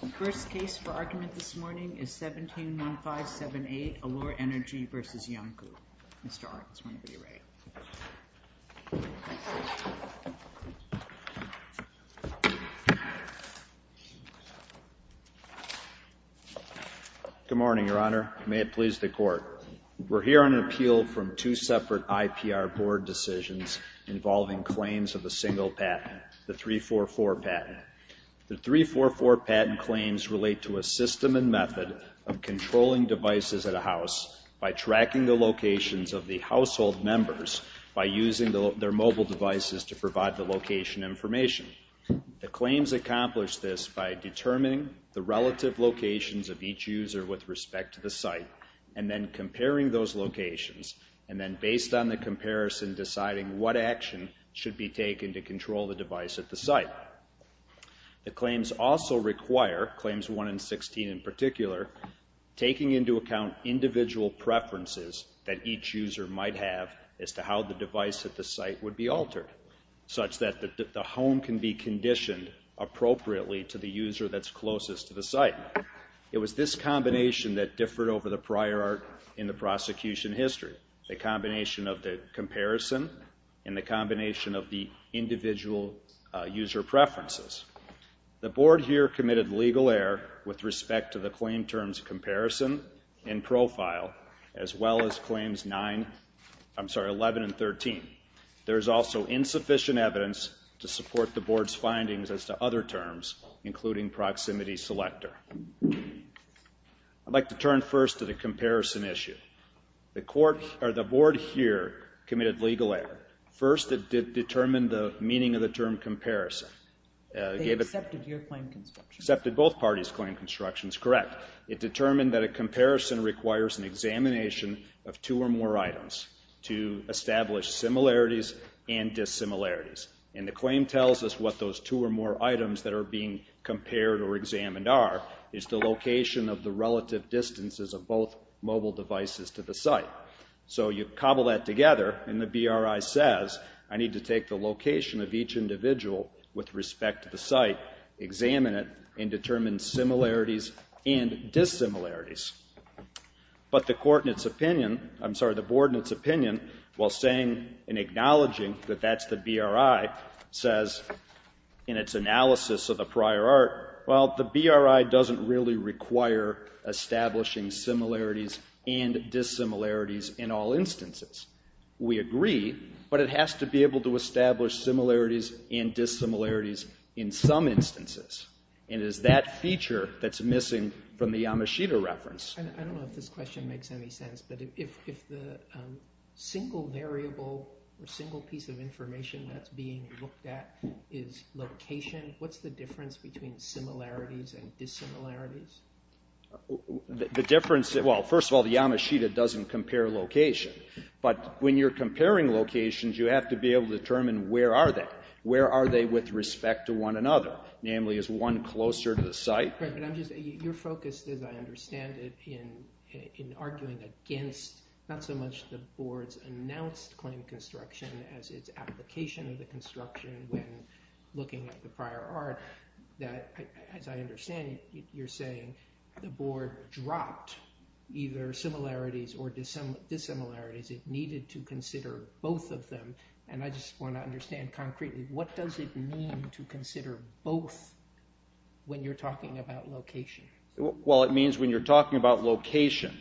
The first case for argument this morning is 17-9578, Alure Energy v. Iancu. Mr. Arndt, this one for you, Ray. Good morning, Your Honor. May it please the Court. We're here on an appeal from two separate IPR board decisions involving claims of a single patent, the 344 patent. The 344 patent claims relate to a system and method of controlling devices at a house by tracking the locations of the household members by using their mobile devices to provide the location information. The claims accomplish this by determining the relative locations of each user with respect to the site and then comparing those locations and then, based on the comparison, deciding what action should be taken to control the device at the site. The claims also require, claims 1 and 16 in particular, taking into account individual preferences that each user might have as to how the device at the site would be altered such that the home can be conditioned appropriately to the user that's closest to the site. It was this combination that differed over the prior art in the prosecution history, the combination of the comparison and the combination of the individual user preferences. The board here committed legal error with respect to the claim terms comparison and profile as well as claims 9, I'm sorry, 11 and 13. There is also insufficient evidence to support the board's findings as to other terms, including proximity selector. I'd like to turn first to the comparison issue. The board here committed legal error. First, it determined the meaning of the term comparison. They accepted your claim construction. Accepted both parties' claim constructions, correct. It determined that a comparison requires an examination of two or more items to establish similarities and dissimilarities. And the claim tells us what those two or more items that are being compared or examined are, is the location of the relative distances of both mobile devices to the site. So you cobble that together, and the BRI says, I need to take the location of each individual with respect to the site, examine it, and determine similarities and dissimilarities. But the court in its opinion, I'm sorry, the board in its opinion, while saying and acknowledging that that's the BRI, says in its analysis of the prior art, well, the BRI doesn't really require establishing similarities and dissimilarities in all instances. We agree, but it has to be able to establish similarities and dissimilarities in some instances. And it is that feature that's missing from the Yamashita reference. I don't know if this question makes any sense, but if the single variable or single piece of information that's being looked at is location, what's the difference between similarities and dissimilarities? The difference, well, first of all, the Yamashita doesn't compare location. But when you're comparing locations, you have to be able to determine where are they. Where are they with respect to one another? Namely, is one closer to the site? You're focused, as I understand it, in arguing against not so much the board's announced claim construction as its application of the construction when looking at the prior art. As I understand it, you're saying the board dropped either similarities or dissimilarities. It needed to consider both of them. And I just want to understand concretely, what does it mean to consider both when you're talking about location? Well, it means when you're talking about location,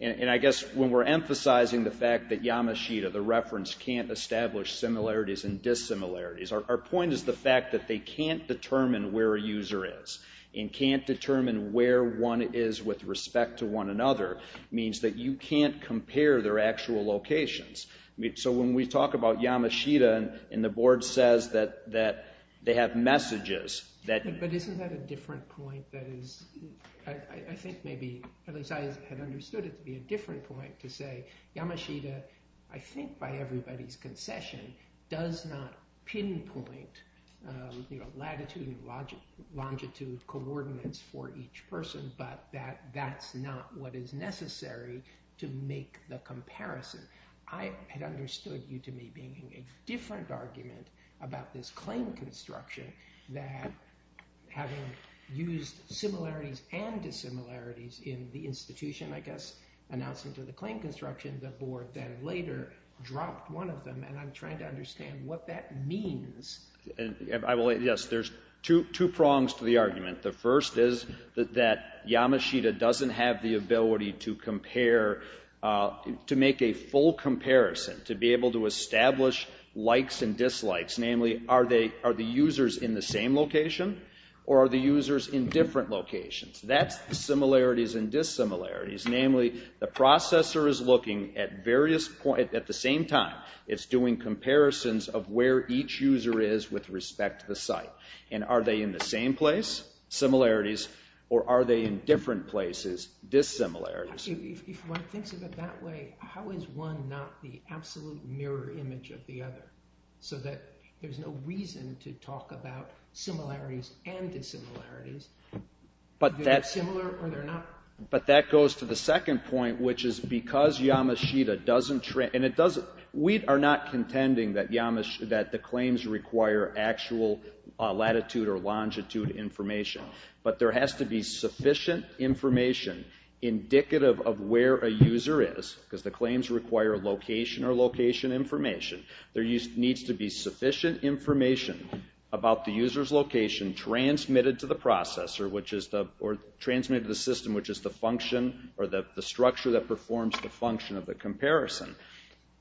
and I guess when we're emphasizing the fact that Yamashita, the reference, can't establish similarities and dissimilarities, our point is the fact that they can't determine where a user is and can't determine where one is with respect to one another means that you can't compare their actual locations. So when we talk about Yamashita and the board says that they have messages that— I understood it to be a different point to say, Yamashita, I think by everybody's concession, does not pinpoint latitude and longitude coordinates for each person, but that that's not what is necessary to make the comparison. I had understood you to me being a different argument about this claim construction that having used similarities and dissimilarities in the institution, I guess, announcement of the claim construction, the board then later dropped one of them, and I'm trying to understand what that means. Yes, there's two prongs to the argument. The first is that Yamashita doesn't have the ability to compare, to make a full comparison, to be able to establish likes and dislikes, namely, are the users in the same location or are the users in different locations? That's the similarities and dissimilarities. Namely, the processor is looking at the same time. It's doing comparisons of where each user is with respect to the site. And are they in the same place? Similarities. Or are they in different places? Dissimilarities. If one thinks of it that way, how is one not the absolute mirror image of the other so that there's no reason to talk about similarities and dissimilarities? Are they similar or they're not? But that goes to the second point, which is because Yamashita doesn't... We are not contending that the claims require actual latitude or longitude information, but there has to be sufficient information indicative of where a user is, because the claims require location or location information. There needs to be sufficient information about the user's location transmitted to the processor or transmitted to the system, which is the function or the structure that performs the function of the comparison.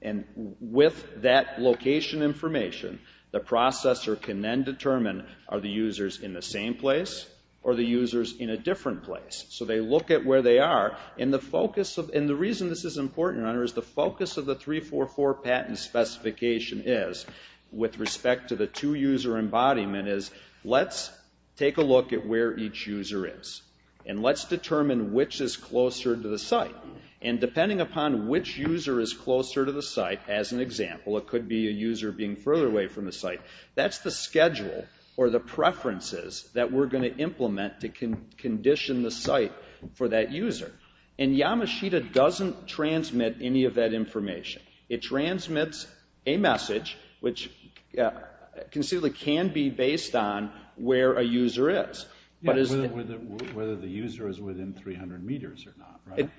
And with that location information, the processor can then determine are the users in the same place or the users in a different place? So they look at where they are. And the reason this is important, Your Honor, is the focus of the 344 patent specification is, with respect to the two-user embodiment, is let's take a look at where each user is and let's determine which is closer to the site. And depending upon which user is closer to the site, as an example, it could be a user being further away from the site. That's the schedule or the preferences that we're going to implement to condition the site for that user. And Yamashita doesn't transmit any of that information. It transmits a message, which conceivably can be based on where a user is. Whether the user is within 300 meters or not, right?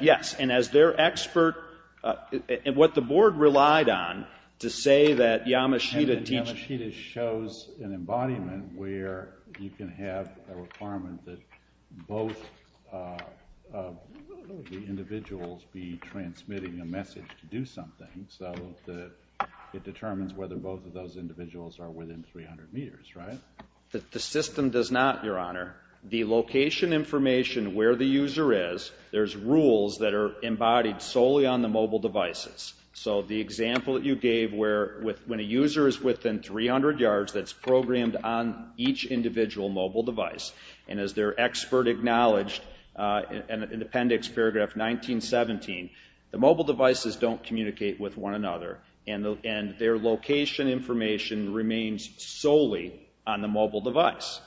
Yes, and as their expert, what the board relied on to say that Yamashita teaches... a requirement that both of the individuals be transmitting a message to do something. So it determines whether both of those individuals are within 300 meters, right? The system does not, Your Honor. The location information where the user is, there's rules that are embodied solely on the mobile devices. So the example that you gave where when a user is within 300 yards, that's programmed on each individual mobile device. And as their expert acknowledged in Appendix Paragraph 1917, the mobile devices don't communicate with one another, and their location information remains solely on the mobile device.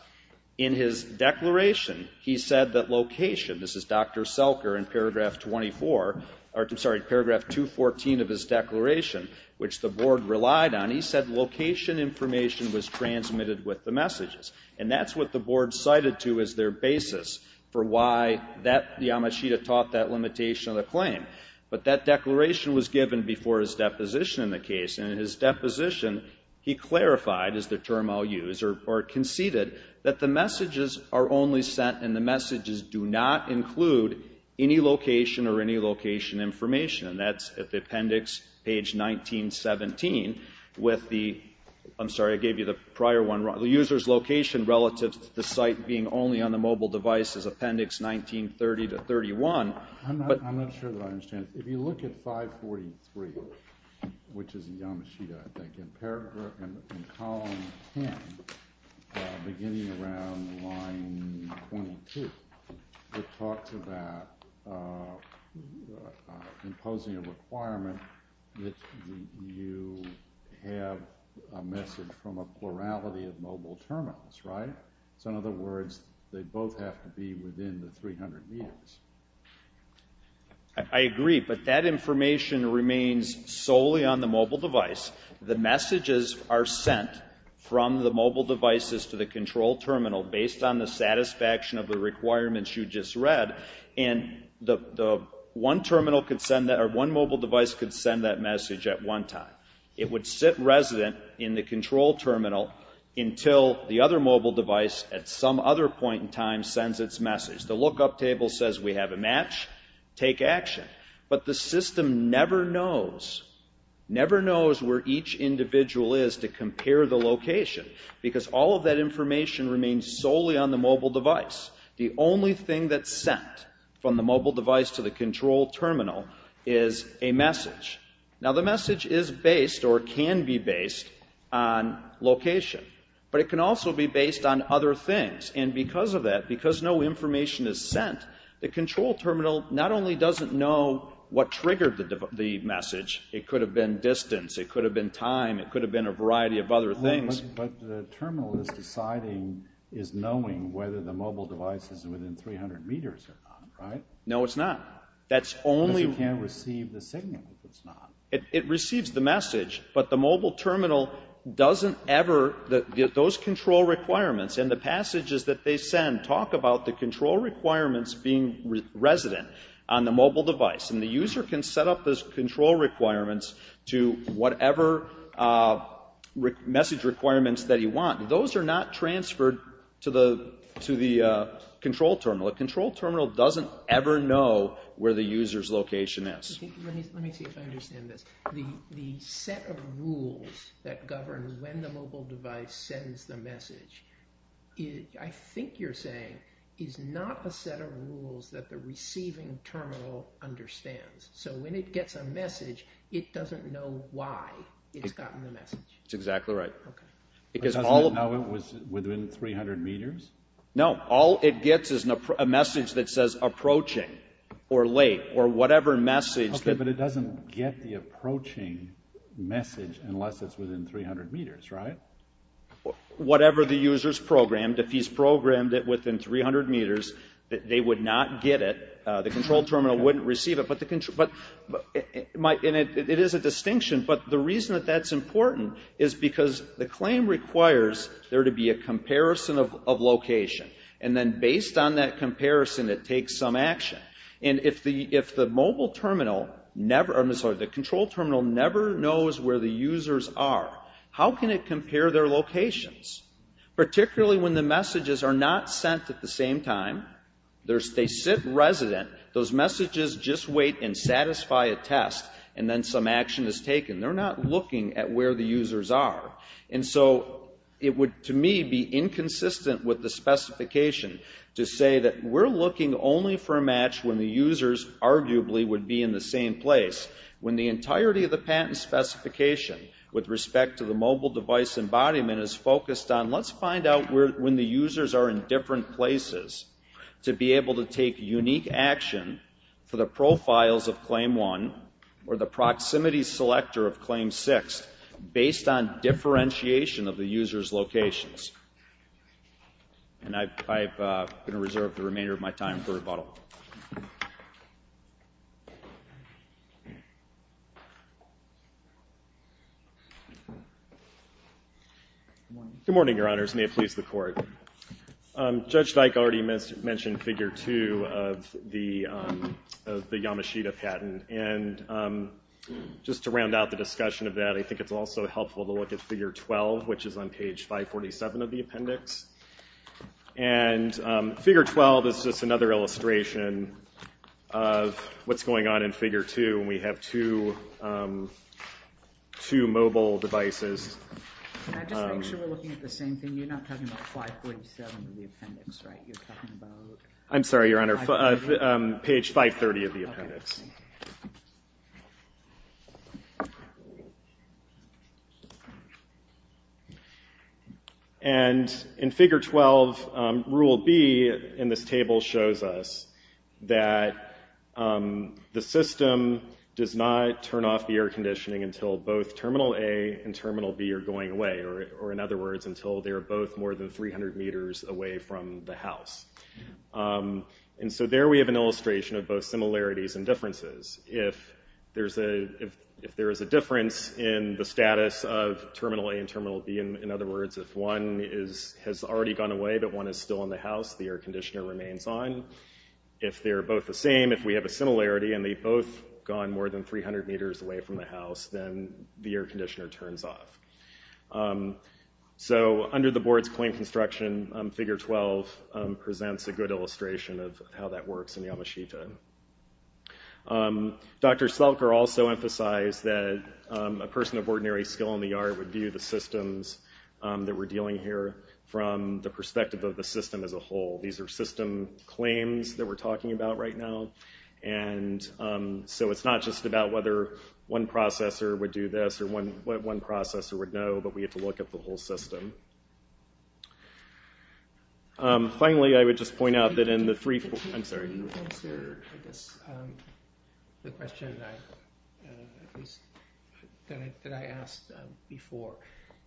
In his declaration, he said that location, this is Dr. Selker in Paragraph 24, or I'm sorry, Paragraph 214 of his declaration, which the board relied on, he said location information was transmitted with the messages. And that's what the board cited to as their basis for why Yamashita taught that limitation of the claim. But that declaration was given before his deposition in the case. And in his deposition, he clarified, is the term I'll use, or conceded that the messages are only sent and the messages do not include any location or any location information. And that's at the Appendix page 1917 with the, I'm sorry, I gave you the prior one wrong, the user's location relative to the site being only on the mobile device is Appendix 1930 to 31. I'm not sure that I understand. If you look at 543, which is Yamashita, I think, in Paragraph 10, beginning around line 22, it talks about imposing a requirement that you have a message from a plurality of mobile terminals, right? So in other words, they both have to be within the 300 meters. I agree, but that information remains solely on the mobile device. The messages are sent from the mobile devices to the control terminal based on the satisfaction of the requirements you just read. And one terminal could send that, or one mobile device could send that message at one time. It would sit resident in the control terminal until the other mobile device at some other point in time sends its message. The lookup table says we have a match, take action. But the system never knows, never knows where each individual is to compare the location because all of that information remains solely on the mobile device. The only thing that's sent from the mobile device to the control terminal is a message. Now, the message is based or can be based on location, but it can also be based on other things. And because of that, because no information is sent, the control terminal not only doesn't know what triggered the message, it could have been distance, it could have been time, it could have been a variety of other things, but the terminal is deciding, is knowing whether the mobile device is within 300 meters or not, right? No, it's not. Because it can't receive the signal if it's not. It receives the message, but the mobile terminal doesn't ever, those control requirements and the passages that they send talk about the control requirements being resident on the mobile device. And the user can set up those control requirements to whatever message requirements that he wants. Those are not transferred to the control terminal. A control terminal doesn't ever know where the user's location is. Let me see if I understand this. The set of rules that govern when the mobile device sends the message, I think you're saying, is not a set of rules that the receiving terminal understands. So when it gets a message, it doesn't know why it's gotten the message. That's exactly right. It doesn't know it was within 300 meters? No, all it gets is a message that says approaching, or late, or whatever message. Okay, but it doesn't get the approaching message unless it's within 300 meters, right? Whatever the user's programmed, if he's programmed it within 300 meters, they would not get it. The control terminal wouldn't receive it. It is a distinction, but the reason that that's important is because the claim requires there to be a comparison of location. And then based on that comparison, it takes some action. And if the mobile terminal never, I'm sorry, the control terminal never knows where the users are, how can it compare their locations? Particularly when the messages are not sent at the same time. They sit resident. Those messages just wait and satisfy a test, and then some action is taken. They're not looking at where the users are. And so it would, to me, be inconsistent with the specification to say that we're looking only for a match when the users arguably would be in the same place. When the entirety of the patent specification, with respect to the mobile device embodiment, is focused on let's find out when the users are in different places to be able to take unique action for the profiles of Claim 1 or the proximity selector of Claim 6 based on differentiation of the user's locations. And I'm going to reserve the remainder of my time for rebuttal. Good morning, Your Honors. May it please the Court. Judge Dyke already mentioned Figure 2 of the Yamashita patent. And just to round out the discussion of that, I think it's also helpful to look at Figure 12, which is on page 547 of the appendix. And Figure 12 is just another illustration of what's going on in Figure 2. We have two mobile devices. Can I just make sure we're looking at the same thing? You're not talking about 547 of the appendix, right? I'm sorry, Your Honor. Page 530 of the appendix. And in Figure 12, Rule B in this table shows us that the system does not turn off the air conditioning until both Terminal A and Terminal B are going away, or in other words, until they are both more than 300 meters away from the house. And so there we have an illustration of both similarities and differences. If there is a difference in the status of Terminal A and Terminal B, in other words, if one has already gone away but one is still in the house, the air conditioner remains on. If they're both the same, if we have a similarity, and they've both gone more than 300 meters away from the house, then the air conditioner turns off. So under the board's claim construction, Figure 12 presents a good illustration of how that works in Yamashita. Dr. Slelker also emphasized that a person of ordinary skill in the yard would view the systems that we're dealing here from the perspective of the system as a whole. These are system claims that we're talking about right now. So it's not just about whether one processor would do this or one processor would know, but we have to look at the whole system. Finally, I would just point out that in the three... I'm sorry. You answered, I guess, the question that I asked before.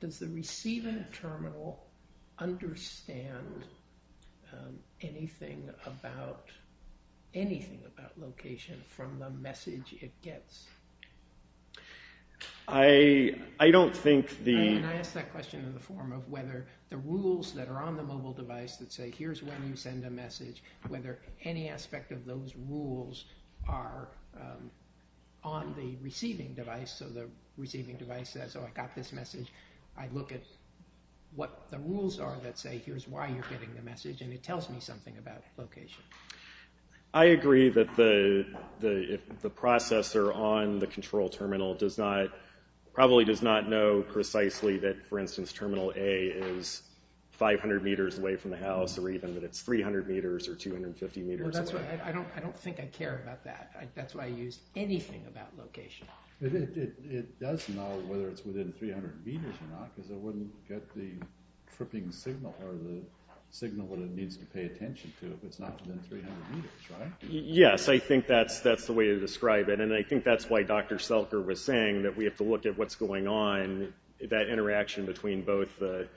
Does the receiving terminal understand anything about location from the message it gets? I don't think the... I mean, I asked that question in the form of whether the rules that are on the mobile device that say, here's when you send a message, whether any aspect of those rules are on the receiving device, so the receiving device says, oh, I got this message. I look at what the rules are that say, here's why you're getting the message, and it tells me something about location. I agree that the processor on the control terminal probably does not know precisely that, for instance, terminal A is 500 meters away from the house or even that it's 300 meters or 250 meters away. I don't think I care about that. That's why I use anything about location. It does know whether it's within 300 meters or not because it wouldn't get the tripping signal or the signal that it needs to pay attention to if it's not within 300 meters, right? Yes, I think that's the way to describe it, and I think that's why Dr. Selker was saying that we have to look at what's going on, that interaction between both the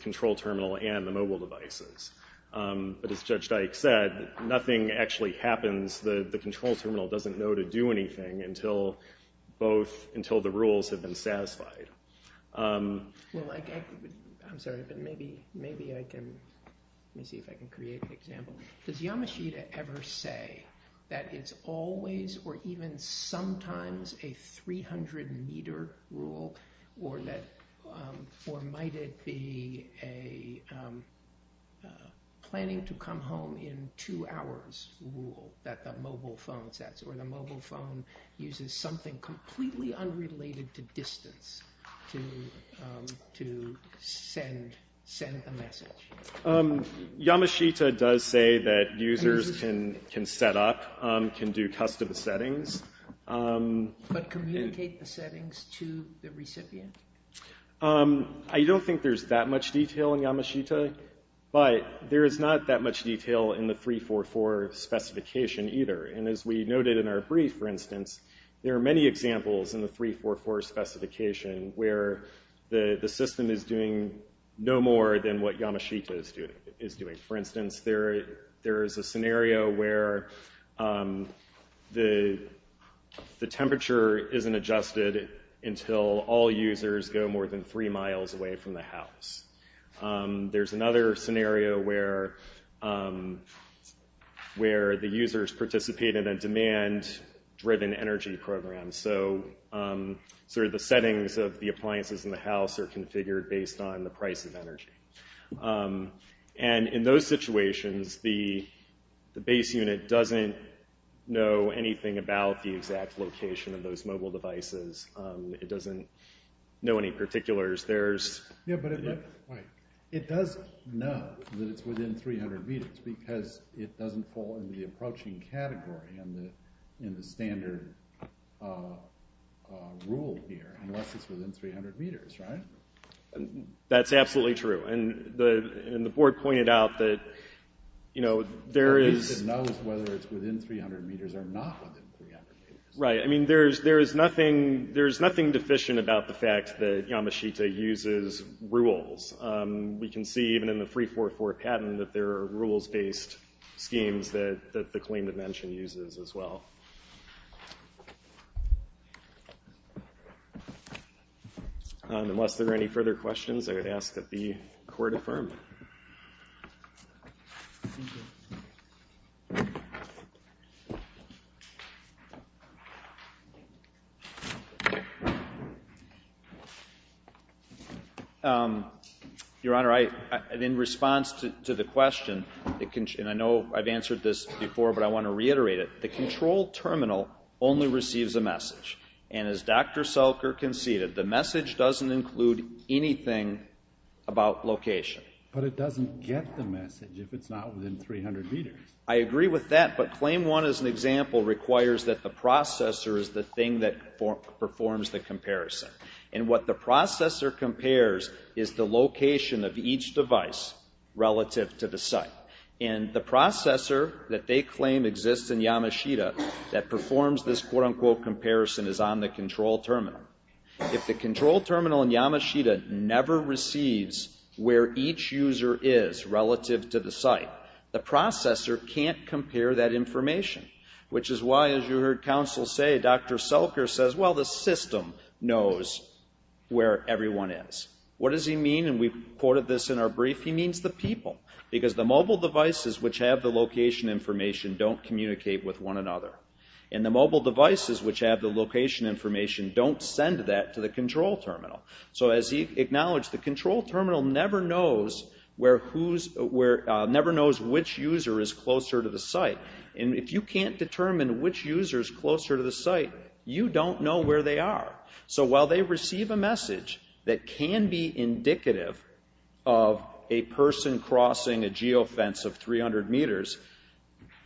control terminal and the mobile devices. But as Judge Dyke said, nothing actually happens. The control terminal doesn't know to do anything until the rules have been satisfied. Well, I'm sorry, but maybe I can, let me see if I can create an example. Does Yamashita ever say that it's always or even sometimes a 300-meter rule or might it be a planning-to-come-home-in-two-hours rule that the mobile phone says or the mobile phone uses something completely unrelated to distance to send a message? Yamashita does say that users can set up, can do custom settings. But communicate the settings to the recipient? I don't think there's that much detail in Yamashita, but there is not that much detail in the 344 specification either. And as we noted in our brief, for instance, there are many examples in the 344 specification where the system is doing no more than what Yamashita is doing. For instance, there is a scenario where the temperature isn't adjusted until all users go more than three miles away from the house. There's another scenario where the users participate in a demand-driven energy program. So the settings of the appliances in the house are configured based on the price of energy. And in those situations, the base unit doesn't know anything about the exact location of those mobile devices. It doesn't know any particulars. It does know that it's within 300 meters because it doesn't fall into the approaching category in the standard rule here, unless it's within 300 meters, right? That's absolutely true. And the board pointed out that there is... Yamashita knows whether it's within 300 meters or not within 300 meters. Right. I mean, there's nothing deficient about the fact that Yamashita uses rules. We can see even in the 344 patent that there are rules-based schemes that the claim to mention uses as well. Unless there are any further questions, I would ask that the court affirm. Thank you. Your Honor, in response to the question, and I know I've answered this before, but I want to reiterate it, the control terminal only receives a message. And as Dr. Selker conceded, the message doesn't include anything about location. But it doesn't get the message if it's not within 300 meters. I agree with that, but Claim 1, as an example, requires that the processor is the thing that performs the comparison. And what the processor compares is the location of each device relative to the site. And the processor that they claim exists in Yamashita that performs this quote-unquote comparison is on the control terminal. If the control terminal in Yamashita never receives where each user is relative to the site, the processor can't compare that information, which is why, as you heard counsel say, Dr. Selker says, well, the system knows where everyone is. What does he mean? And we've quoted this in our brief. He means the people, because the mobile devices, which have the location information, don't communicate with one another. And the mobile devices, which have the location information, don't send that to the control terminal. So as he acknowledged, the control terminal never knows which user is closer to the site. And if you can't determine which user is closer to the site, you don't know where they are. So while they receive a message that can be indicative of a person crossing a geofence of 300 meters,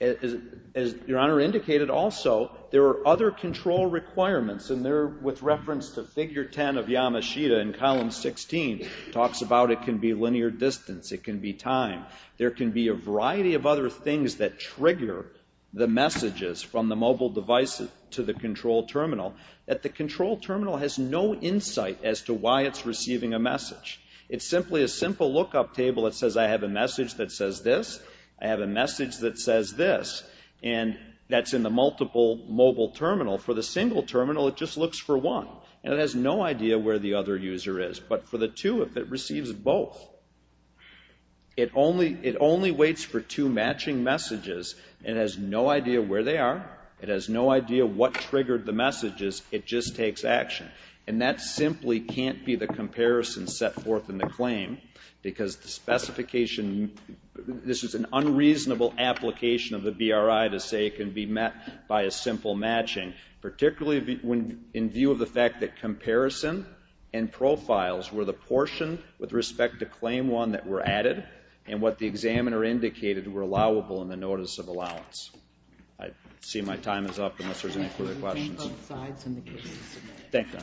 as Your Honor indicated also, there are other control requirements, and they're with reference to Figure 10 of Yamashita in Column 16. It talks about it can be linear distance. It can be time. There can be a variety of other things that trigger the messages from the mobile devices to the control terminal. But the control terminal has no insight as to why it's receiving a message. It's simply a simple lookup table that says, I have a message that says this. I have a message that says this. And that's in the multiple mobile terminal. For the single terminal, it just looks for one. And it has no idea where the other user is. But for the two, if it receives both, it only waits for two matching messages. It has no idea where they are. It has no idea what triggered the messages. It just takes action. And that simply can't be the comparison set forth in the claim because this is an unreasonable application of the BRI to say it can be met by a simple matching, particularly in view of the fact that comparison and profiles were the portion with respect to Claim 1 that were added and what the examiner indicated were allowable in the Notice of Allowance. I see my time is up unless there's any further questions. Thank you.